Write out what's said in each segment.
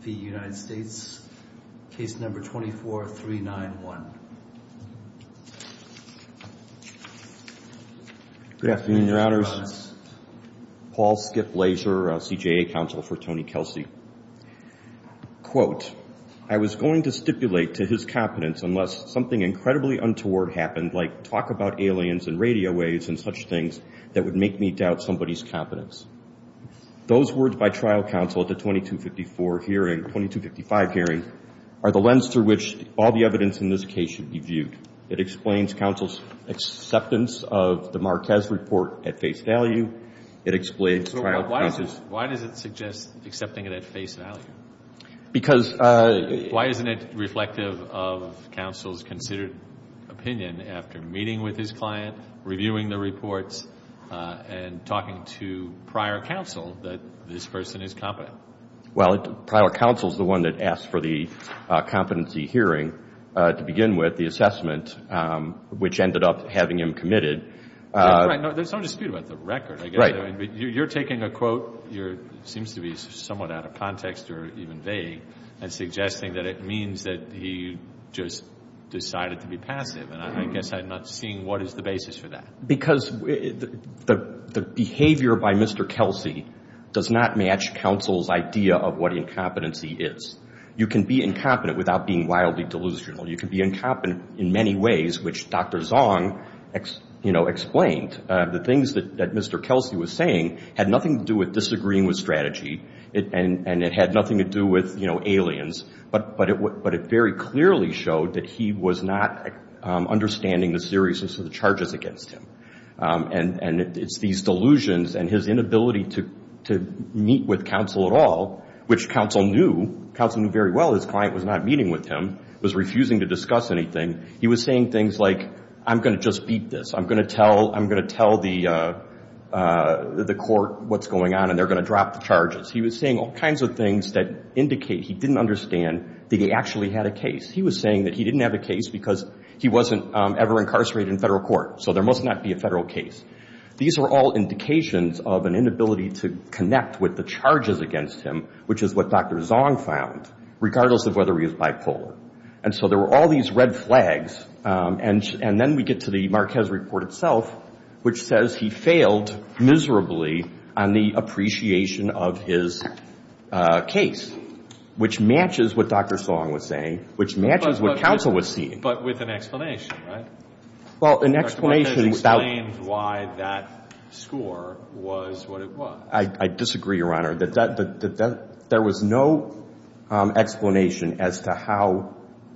v. United States, case number 24391. Good afternoon, your honors. Paul Skip Laser, CJA counsel for Tony Kelsey. Quote, I was going to stipulate to his competence unless something incredibly untoward happened, like talk about aliens and radio waves and such things that would make me doubt somebody's competence. Those words by trial counsel at the 2254 hearing, 2255 hearing, are the lens through which all the evidence in this case should be viewed. It explains counsel's acceptance of the Marquez report at face value. It explains trial counsel's... Why does it suggest accepting it at face value? Because... Why isn't it reflective of counsel's considered opinion after meeting with his client, reviewing the reports, and talking to prior counsel that this person is competent? Well, prior counsel is the one that asked for the competency hearing to begin with, the assessment, which ended up having him committed. There's no dispute about the record. Right. You're taking a quote that seems to be somewhat out of context or even vague and suggesting that it means that he just decided to be passive, and I guess I'm not seeing what is the basis for that. Because the behavior by Mr. Kelsey does not match counsel's idea of what incompetency is. You can be incompetent without being wildly delusional. You can be incompetent in many ways, which Dr. Zong, you know, explained. The things that Mr. Kelsey was saying had nothing to do with disagreeing with strategy, and it had nothing to do with, you know, aliens, but it very clearly showed that he was not understanding the seriousness of the charges against him. And it's these delusions and his inability to meet with counsel at all, which counsel knew, counsel knew very well his client was not meeting with him, was refusing to discuss anything. He was saying things like, I'm going to just beat this. I'm going to tell the court what's going on, and they're going to drop the charges. He was saying all kinds of things that indicate he didn't understand that he actually had a case. He was saying that he didn't have a case because he wasn't ever incarcerated in federal court, so there must not be a federal case. These are all indications of an inability to connect with the charges against him, which is what Dr. Zong found, regardless of whether he was bipolar. And so there were all these red flags, and then we get to the Marquez report itself, which says he failed miserably on the appreciation of his case, which matches what Dr. Zong was saying, which matches what counsel was seeing. But with an explanation, right? Well, an explanation about — Dr. Marquez explains why that score was what it was. I disagree, Your Honor. There was no explanation as to how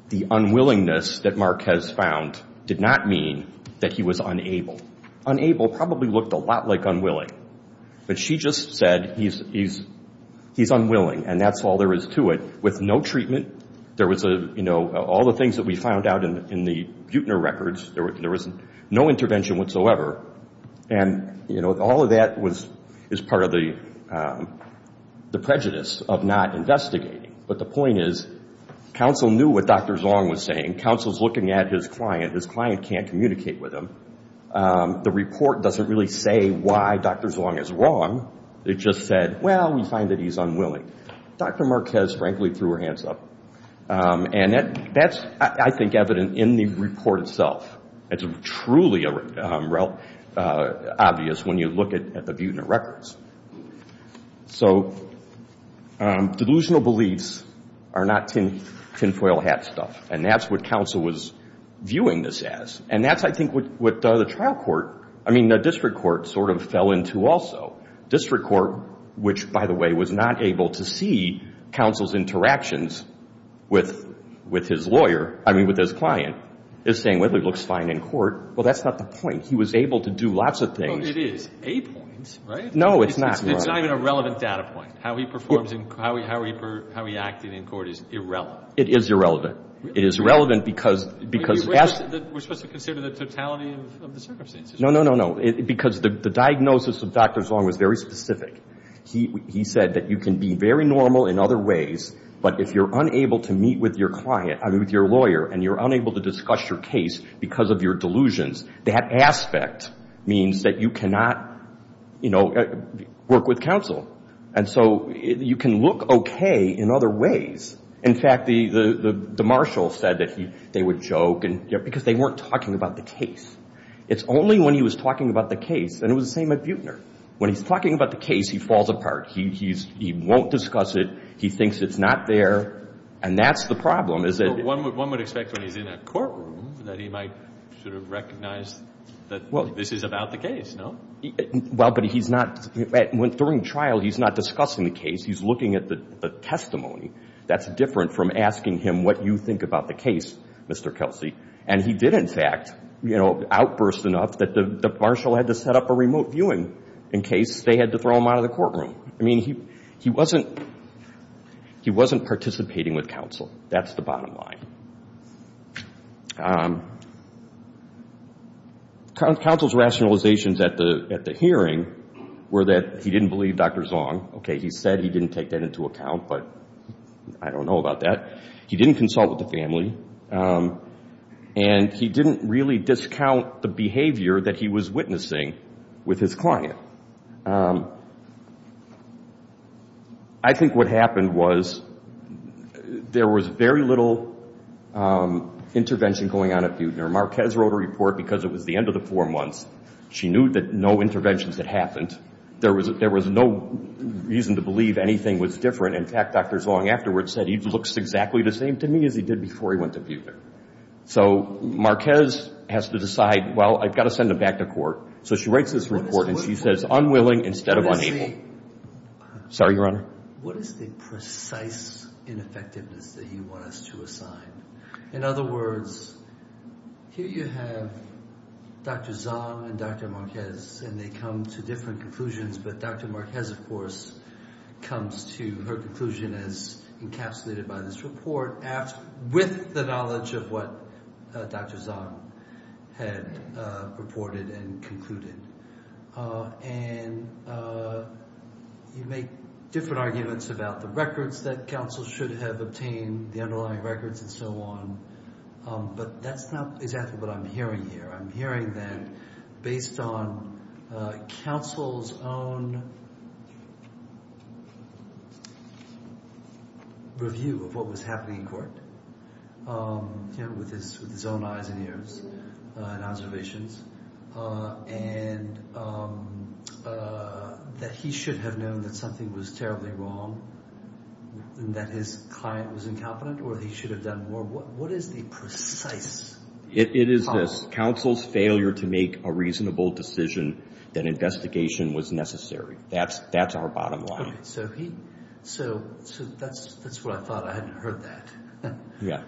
the unwillingness that Marquez found did not mean that he was unable. Unable probably looked a lot like unwilling, but she just said he's unwilling, and that's all there is to it. With no treatment, there was a — you know, all the things that we found out in the Buettner records, there was no intervention whatsoever. And, you know, all of that is part of the prejudice of not investigating. But the point is, counsel knew what Dr. Zong was saying. Counsel's looking at his client. His client can't communicate with him. The report doesn't really say why Dr. Zong is wrong. It just said, well, we find that he's unwilling. Dr. Marquez, frankly, threw her hands up. And that's, I think, evident in the report itself. It's truly obvious when you look at the Buettner records. So delusional beliefs are not tinfoil hat stuff, and that's what counsel was viewing this as. And that's, I think, what the trial court — I mean, the district court sort of fell into also. District court, which, by the way, was not able to see counsel's interactions with his lawyer — I mean, with his client — is saying, well, he looks fine in court. Well, that's not the point. He was able to do lots of things. Well, it is a point, right? No, it's not. It's not even a relevant data point. How he performs in — how he acted in court is irrelevant. It is irrelevant. It is relevant because — We're supposed to consider the totality of the circumstances. No, no, no, no. Because the diagnosis of Dr. Zong was very specific. He said that you can be very normal in other ways, but if you're unable to meet with your client — I mean, with your lawyer, and you're unable to discuss your case because of your delusions, that aspect means that you cannot, you know, work with counsel. And so you can look okay in other ways. In fact, the marshal said that they would joke because they weren't talking about the case. It's only when he was talking about the case — and it was the same at Buechner. When he's talking about the case, he falls apart. He won't discuss it. He thinks it's not there. And that's the problem, is that — One would expect when he's in a courtroom that he might sort of recognize that this is about the case, no? Well, but he's not — during trial, he's not discussing the case. He's looking at the testimony. That's different from asking him what you think about the case, Mr. Kelsey. And he did, in fact, you know, outburst enough that the marshal had to set up a remote viewing in case they had to throw him out of the courtroom. I mean, he wasn't — he wasn't participating with counsel. That's the bottom line. Counsel's rationalizations at the hearing were that he didn't believe Dr. Zong. Okay, he said he didn't take that into account, but I don't know about that. He didn't consult with the family. And he didn't really discount the behavior that he was witnessing with his client. I think what happened was there was very little intervention going on at Beutner. Marquez wrote a report because it was the end of the four months. She knew that no interventions had happened. There was no reason to believe anything was different. In fact, Dr. Zong afterwards said he looks exactly the same to me as he did before he went to Beutner. So Marquez has to decide, well, I've got to send him back to court. So she writes this report, and she says unwilling instead of unable. Let me see. Sorry, Your Honor. What is the precise ineffectiveness that you want us to assign? In other words, here you have Dr. Zong and Dr. Marquez, and they come to different conclusions. But Dr. Marquez, of course, comes to her conclusion as encapsulated by this report with the knowledge of what Dr. Zong had reported and concluded. And you make different arguments about the records that counsel should have obtained, the underlying records and so on. But that's not exactly what I'm hearing here. I'm hearing that based on counsel's own review of what was happening in court, with his own eyes and ears and observations, and that he should have known that something was terribly wrong and that his client was incompetent or that he should have done more. What is the precise— It is this. Counsel's failure to make a reasonable decision that investigation was necessary. That's our bottom line. So that's what I thought. I hadn't heard that. Yeah.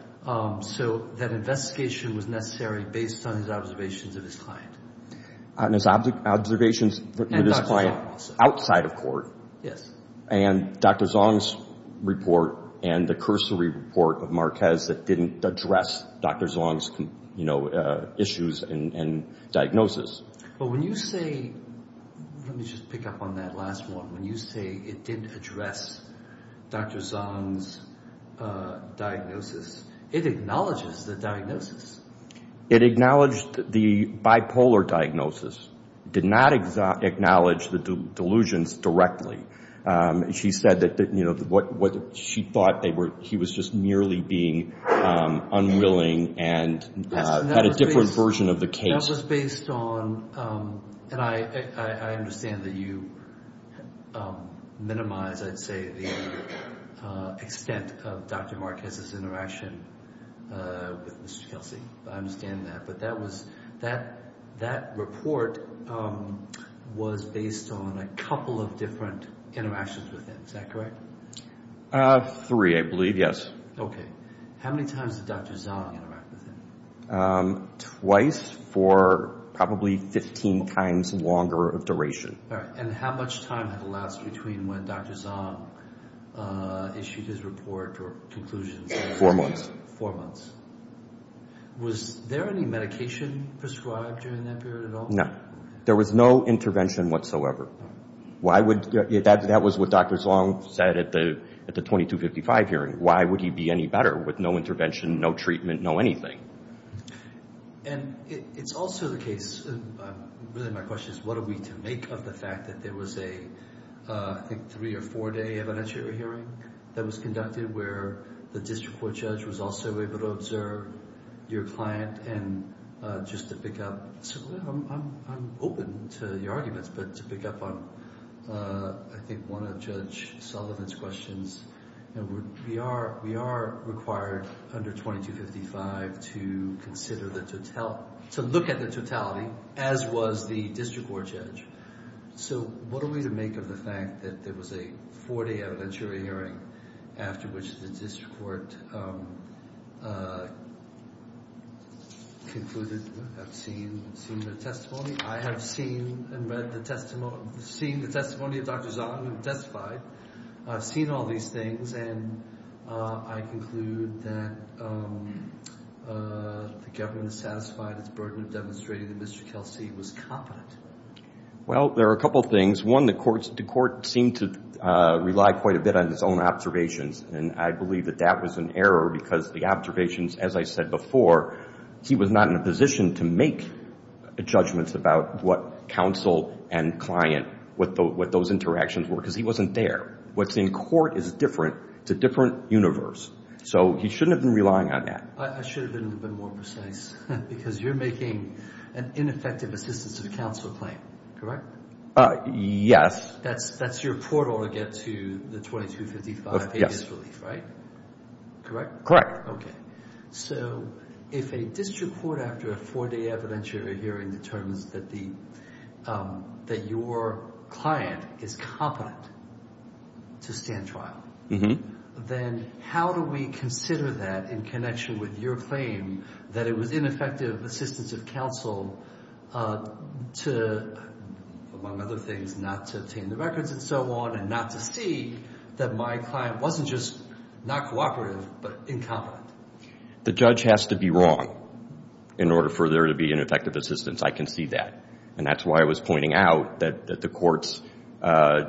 So that investigation was necessary based on his observations of his client. And his observations with his client outside of court. Yes. And Dr. Zong's report and the cursory report of Marquez that didn't address Dr. Zong's issues and diagnosis. But when you say—let me just pick up on that last one. When you say it didn't address Dr. Zong's diagnosis, it acknowledges the diagnosis. It acknowledged the bipolar diagnosis. It did not acknowledge the delusions directly. She said that she thought he was just merely being unwilling and had a different version of the case. That was based on—and I understand that you minimize, I'd say, the extent of Dr. Marquez's interaction with Mr. Kelsey. I understand that. But that report was based on a couple of different interactions with him. Is that correct? Three, I believe, yes. Okay. How many times did Dr. Zong interact with him? Twice for probably 15 times longer of duration. All right. And how much time had elapsed between when Dr. Zong issued his report or conclusions? Four months. Four months. Was there any medication prescribed during that period at all? No. There was no intervention whatsoever. Why would—that was what Dr. Zong said at the 2255 hearing. Why would he be any better with no intervention, no treatment, no anything? And it's also the case—really my question is what are we to make of the fact that there was a, I think, three- or four-day evidentiary hearing that was conducted where the district court judge was also able to observe your client? And just to pick up—I'm open to your arguments, but to pick up on, I think, one of Judge Sullivan's questions, we are required under 2255 to consider the totality—to look at the totality, as was the district court judge. So what are we to make of the fact that there was a four-day evidentiary hearing after which the district court concluded— I've seen the testimony. I have seen and read the testimony—seen the testimony of Dr. Zong and testified. I've seen all these things, and I conclude that the government is satisfied its burden of demonstrating that Mr. Kelsey was competent. Well, there are a couple things. One, the court seemed to rely quite a bit on his own observations, and I believe that that was an error because the observations, as I said before, he was not in a position to make judgments about what counsel and client—what those interactions were, because he wasn't there. What's in court is different. It's a different universe. So he shouldn't have been relying on that. I should have been a little bit more precise because you're making an ineffective assistance of counsel claim, correct? Yes. That's your portal to get to the 2255, a disbelief, right? Correct? Okay. So if a district court, after a four-day evidentiary hearing, determines that your client is competent to stand trial, then how do we consider that in connection with your claim that it was ineffective assistance of counsel to, among other things, not to obtain the records and so on and not to see that my client wasn't just not cooperative but incompetent? The judge has to be wrong in order for there to be ineffective assistance. I can see that. And that's why I was pointing out that the court's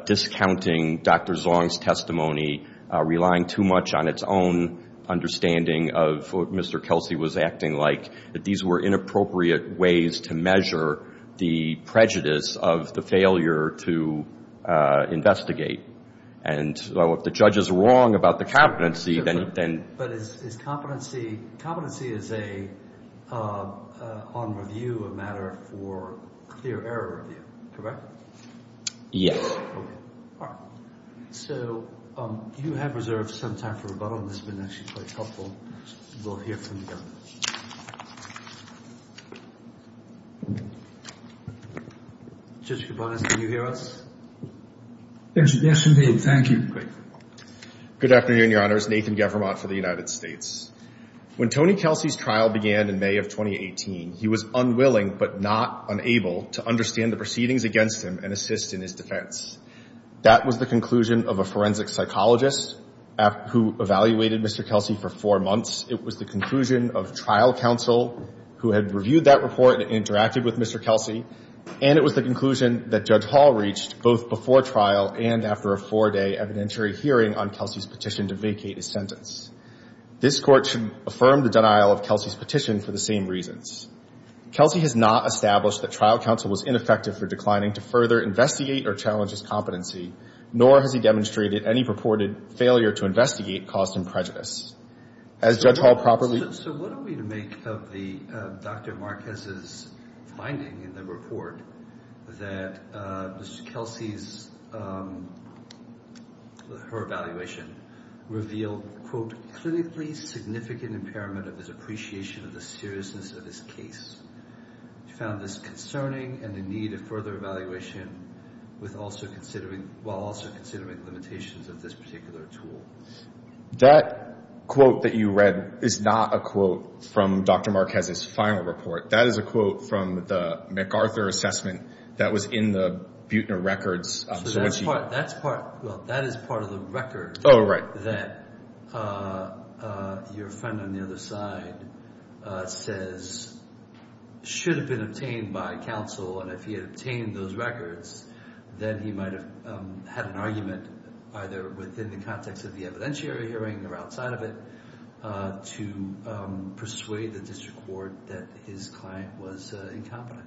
discounting Dr. Zong's testimony, relying too much on its own understanding of what Mr. Kelsey was acting like, that these were inappropriate ways to measure the prejudice of the failure to investigate. And so if the judge is wrong about the competency, then— Competency is a—on review, a matter for clear error review, correct? Yes. Okay. All right. So you have reserved some time for rebuttal, and this has been actually quite helpful. We'll hear from the governor. Judge Kubanis, can you hear us? Yes, indeed. Thank you. Great. Good afternoon, Your Honors. Nathan Gevermont for the United States. When Tony Kelsey's trial began in May of 2018, he was unwilling but not unable to understand the proceedings against him and assist in his defense. That was the conclusion of a forensic psychologist who evaluated Mr. Kelsey for four months. It was the conclusion of trial counsel who had reviewed that report and interacted with Mr. Kelsey. And it was the conclusion that Judge Hall reached both before trial and after a four-day evidentiary hearing on Kelsey's petition to vacate his sentence. This Court should affirm the denial of Kelsey's petition for the same reasons. Kelsey has not established that trial counsel was ineffective for declining to further investigate or challenge his competency, nor has he demonstrated any purported failure to investigate caused him prejudice. As Judge Hall properly— So what are we to make of the—Dr. Marquez's finding in the report that Mr. Kelsey's—her evaluation revealed, quote, clinically significant impairment of his appreciation of the seriousness of his case. We found this concerning and in need of further evaluation with also considering— while also considering limitations of this particular tool. That quote that you read is not a quote from Dr. Marquez's final report. That is a quote from the MacArthur assessment that was in the Buettner records. So that's part—well, that is part of the record— Oh, right. —that your friend on the other side says should have been obtained by counsel. And if he had obtained those records, then he might have had an argument either within the context of the evidentiary hearing or outside of it to persuade the district court that his client was incompetent.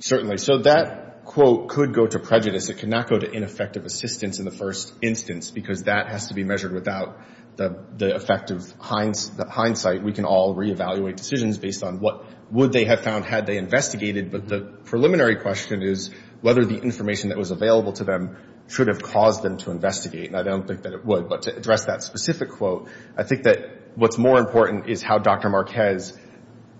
Certainly. So that quote could go to prejudice. It could not go to ineffective assistance in the first instance because that has to be measured without the effect of hindsight. We can all reevaluate decisions based on what would they have found had they investigated, but the preliminary question is whether the information that was available to them should have caused them to investigate. And I don't think that it would. But to address that specific quote, I think that what's more important is how Dr. Marquez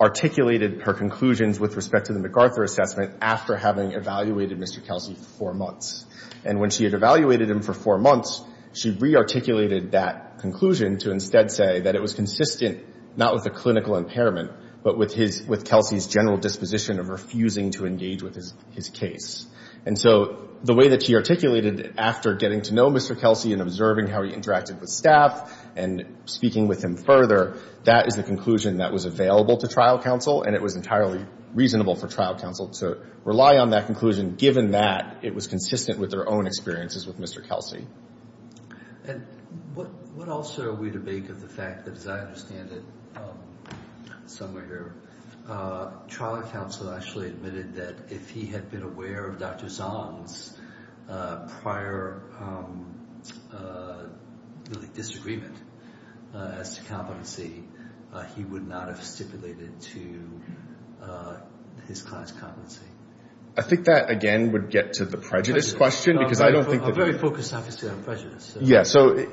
articulated her conclusions with respect to the MacArthur assessment after having evaluated Mr. Kelsey for four months. And when she had evaluated him for four months, she rearticulated that conclusion to instead say that it was consistent not with a clinical impairment but with Kelsey's general disposition of refusing to engage with his case. And so the way that she articulated it after getting to know Mr. Kelsey and observing how he interacted with staff and speaking with him further, that is the conclusion that was available to trial counsel, and it was entirely reasonable for trial counsel to rely on that conclusion, given that it was consistent with their own experiences with Mr. Kelsey. And what else are we to make of the fact that, as I understand it, somewhere here, trial counsel actually admitted that if he had been aware of Dr. Zahn's prior disagreement as to competency, he would not have stipulated to his client's competency. I think that, again, would get to the prejudice question because I don't think that... Well, we're very focused, obviously, on prejudice. Yeah. So,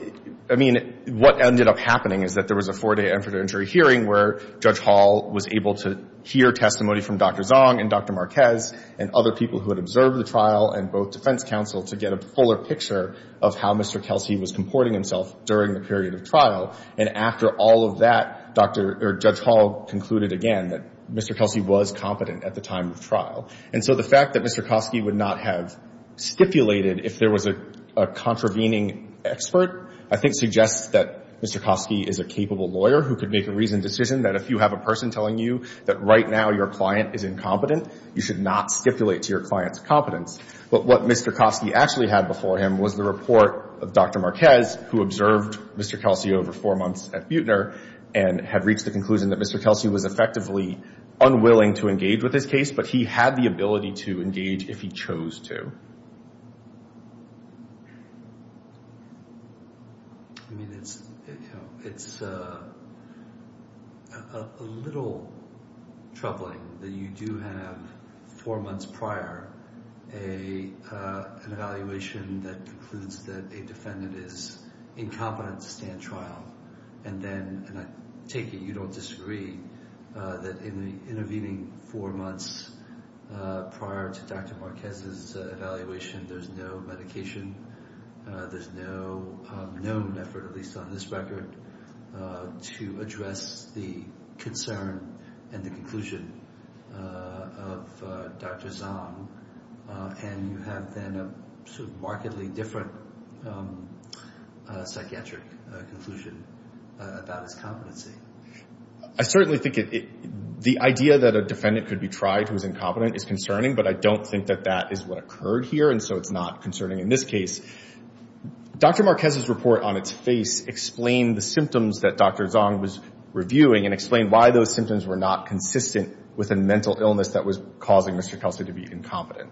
I mean, what ended up happening is that there was a four-day infertility hearing where Judge Hall was able to hear testimony from Dr. Zahn and Dr. Marquez and other people who had observed the trial and both defense counsel to get a fuller picture of how Mr. Kelsey was comporting himself during the period of trial. And after all of that, Judge Hall concluded again that Mr. Kelsey was competent at the time of trial. And so the fact that Mr. Kosky would not have stipulated if there was a contravening expert, I think suggests that Mr. Kosky is a capable lawyer who could make a reasoned decision that if you have a person telling you that right now your client is incompetent, you should not stipulate to your client's competence. But what Mr. Kosky actually had before him was the report of Dr. Marquez, who observed Mr. Kelsey over four months at Buechner and had reached the conclusion that Mr. Kelsey was effectively unwilling to engage with his case, but he had the ability to engage if he chose to. I mean, it's a little troubling that you do have four months prior an evaluation that concludes that a defendant is incompetent to stand trial. And I take it you don't disagree that in the intervening four months prior to Dr. Marquez's evaluation, there's no medication, there's no known effort, at least on this record, to address the concern and the conclusion of Dr. Zhang. And you have then a sort of markedly different psychiatric conclusion about his competency. I certainly think the idea that a defendant could be tried who is incompetent is concerning, but I don't think that that is what occurred here, and so it's not concerning in this case. Dr. Marquez's report on its face explained the symptoms that Dr. Zhang was reviewing and explained why those symptoms were not consistent with a mental illness that was causing Mr. Kelsey to be incompetent.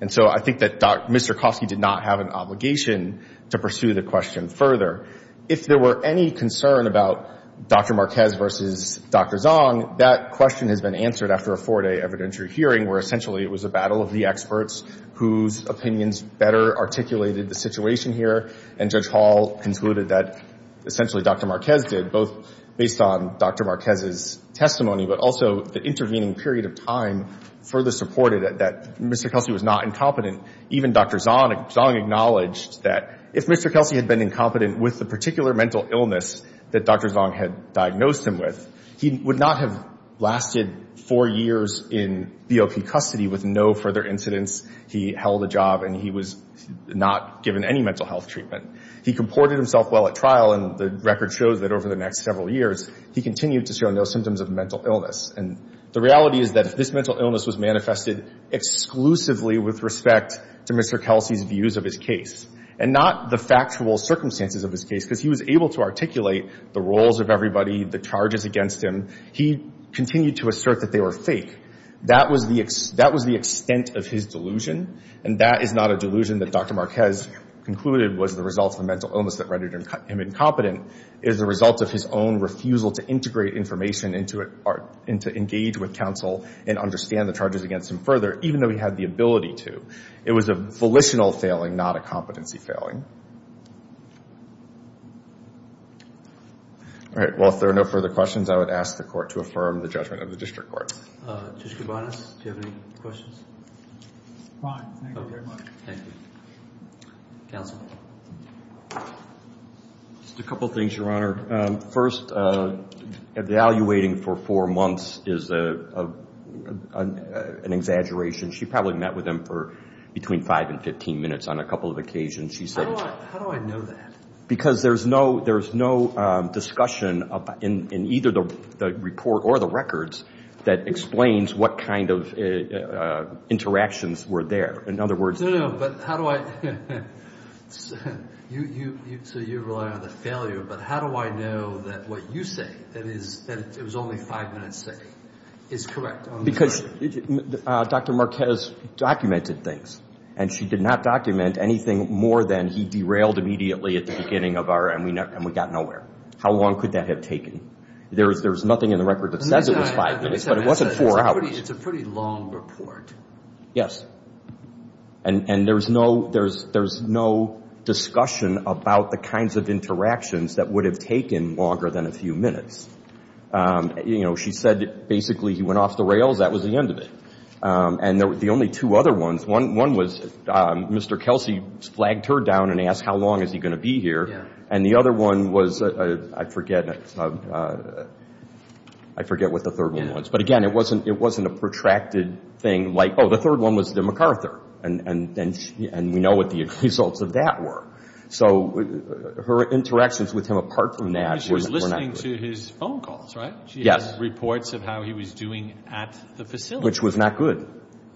And so I think that Mr. Kosky did not have an obligation to pursue the question further. If there were any concern about Dr. Marquez versus Dr. Zhang, that question has been answered after a four-day evidentiary hearing where essentially it was a battle of the experts whose opinions better articulated the situation here, and Judge Hall concluded that essentially Dr. Marquez did, both based on Dr. Marquez's testimony, but also the intervening period of time further supported that Mr. Kelsey was not incompetent. Even Dr. Zhang acknowledged that if Mr. Kelsey had been incompetent with the particular mental illness that Dr. Zhang had diagnosed him with, he would not have lasted four years in BOP custody with no further incidents. He held a job, and he was not given any mental health treatment. He comported himself well at trial, and the record shows that over the next several years, he continued to show no symptoms of mental illness. And the reality is that if this mental illness was manifested exclusively with respect to Mr. Kelsey's views of his case, and not the factual circumstances of his case, because he was able to articulate the roles of everybody, the charges against him, he continued to assert that they were fake. That was the extent of his delusion, and that is not a delusion that Dr. Marquez concluded was the result of a mental illness that rendered him incompetent. It is the result of his own refusal to integrate information and to engage with counsel and understand the charges against him further, even though he had the ability to. It was a volitional failing, not a competency failing. All right. Well, if there are no further questions, I would ask the Court to affirm the judgment of the District Court. Judge Kabanos, do you have any questions? Fine. Thank you very much. Thank you. Counsel? Just a couple of things, Your Honor. First, evaluating for four months is an exaggeration. She probably met with him for between five and 15 minutes on a couple of occasions. How do I know that? Because there's no discussion in either the report or the records that explains what kind of interactions were there. So you're relying on the failure, but how do I know that what you say, that it was only five minutes, is correct? Because Dr. Marquez documented things, and she did not document anything more than he derailed immediately at the beginning of our and we got nowhere. How long could that have taken? There's nothing in the record that says it was five minutes, but it wasn't four hours. It's a pretty long report. Yes. And there's no discussion about the kinds of interactions that would have taken longer than a few minutes. You know, she said basically he went off the rails. That was the end of it. And the only two other ones, one was Mr. Kelsey flagged her down and asked how long is he going to be here, and the other one was, I forget what the third one was. But, again, it wasn't a protracted thing like, oh, the third one was the MacArthur, and we know what the results of that were. So her interactions with him apart from that were not good. She was listening to his phone calls, right? She had reports of how he was doing at the facility. Which was not good.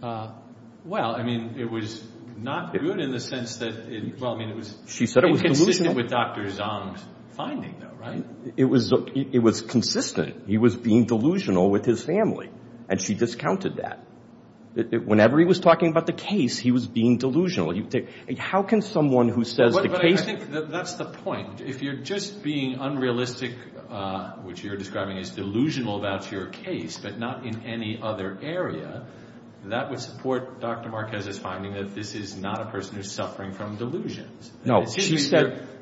Well, I mean, it was not good in the sense that, well, I mean, it was consistent with Dr. Zong's finding, though, right? It was consistent. He was being delusional with his family, and she discounted that. Whenever he was talking about the case, he was being delusional. How can someone who says the case — But I think that's the point. If you're just being unrealistic, which you're describing as delusional about your case, but not in any other area, that would support Dr. Marquez's finding that this is not a person who's suffering from delusions. No.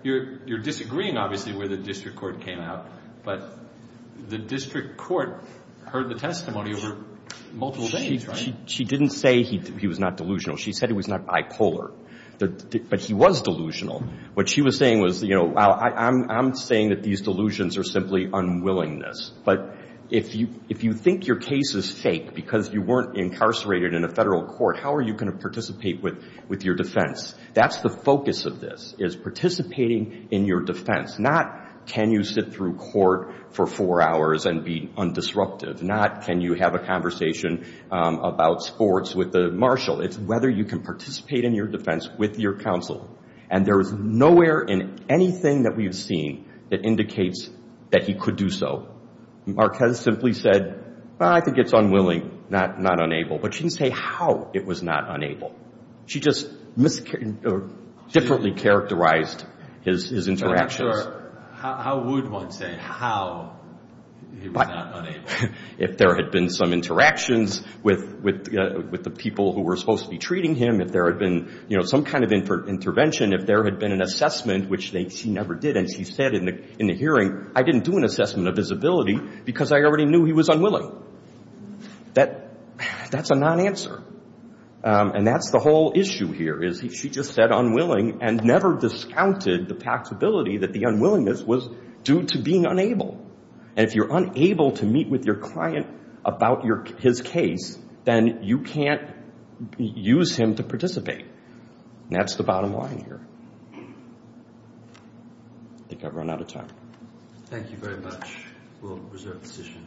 You're disagreeing, obviously, where the district court came out. But the district court heard the testimony over multiple days, right? She didn't say he was not delusional. She said he was not bipolar. But he was delusional. What she was saying was, you know, I'm saying that these delusions are simply unwillingness. But if you think your case is fake because you weren't incarcerated in a federal court, how are you going to participate with your defense? That's the focus of this, is participating in your defense. Not can you sit through court for four hours and be undisruptive. Not can you have a conversation about sports with the marshal. It's whether you can participate in your defense with your counsel. And there is nowhere in anything that we've seen that indicates that he could do so. Marquez simply said, well, I think it's unwilling, not unable. But she didn't say how it was not unable. She just differently characterized his interactions. How would one say how he was not unable? If there had been some interactions with the people who were supposed to be treating him, if there had been some kind of intervention, if there had been an assessment, which she never did, and she said in the hearing, I didn't do an assessment of his ability because I already knew he was unwilling. That's a non-answer. And that's the whole issue here is she just said unwilling and never discounted the possibility that the unwillingness was due to being unable. And if you're unable to meet with your client about his case, then you can't use him to participate. And that's the bottom line here. I think I've run out of time. Thank you very much. We'll reserve the session.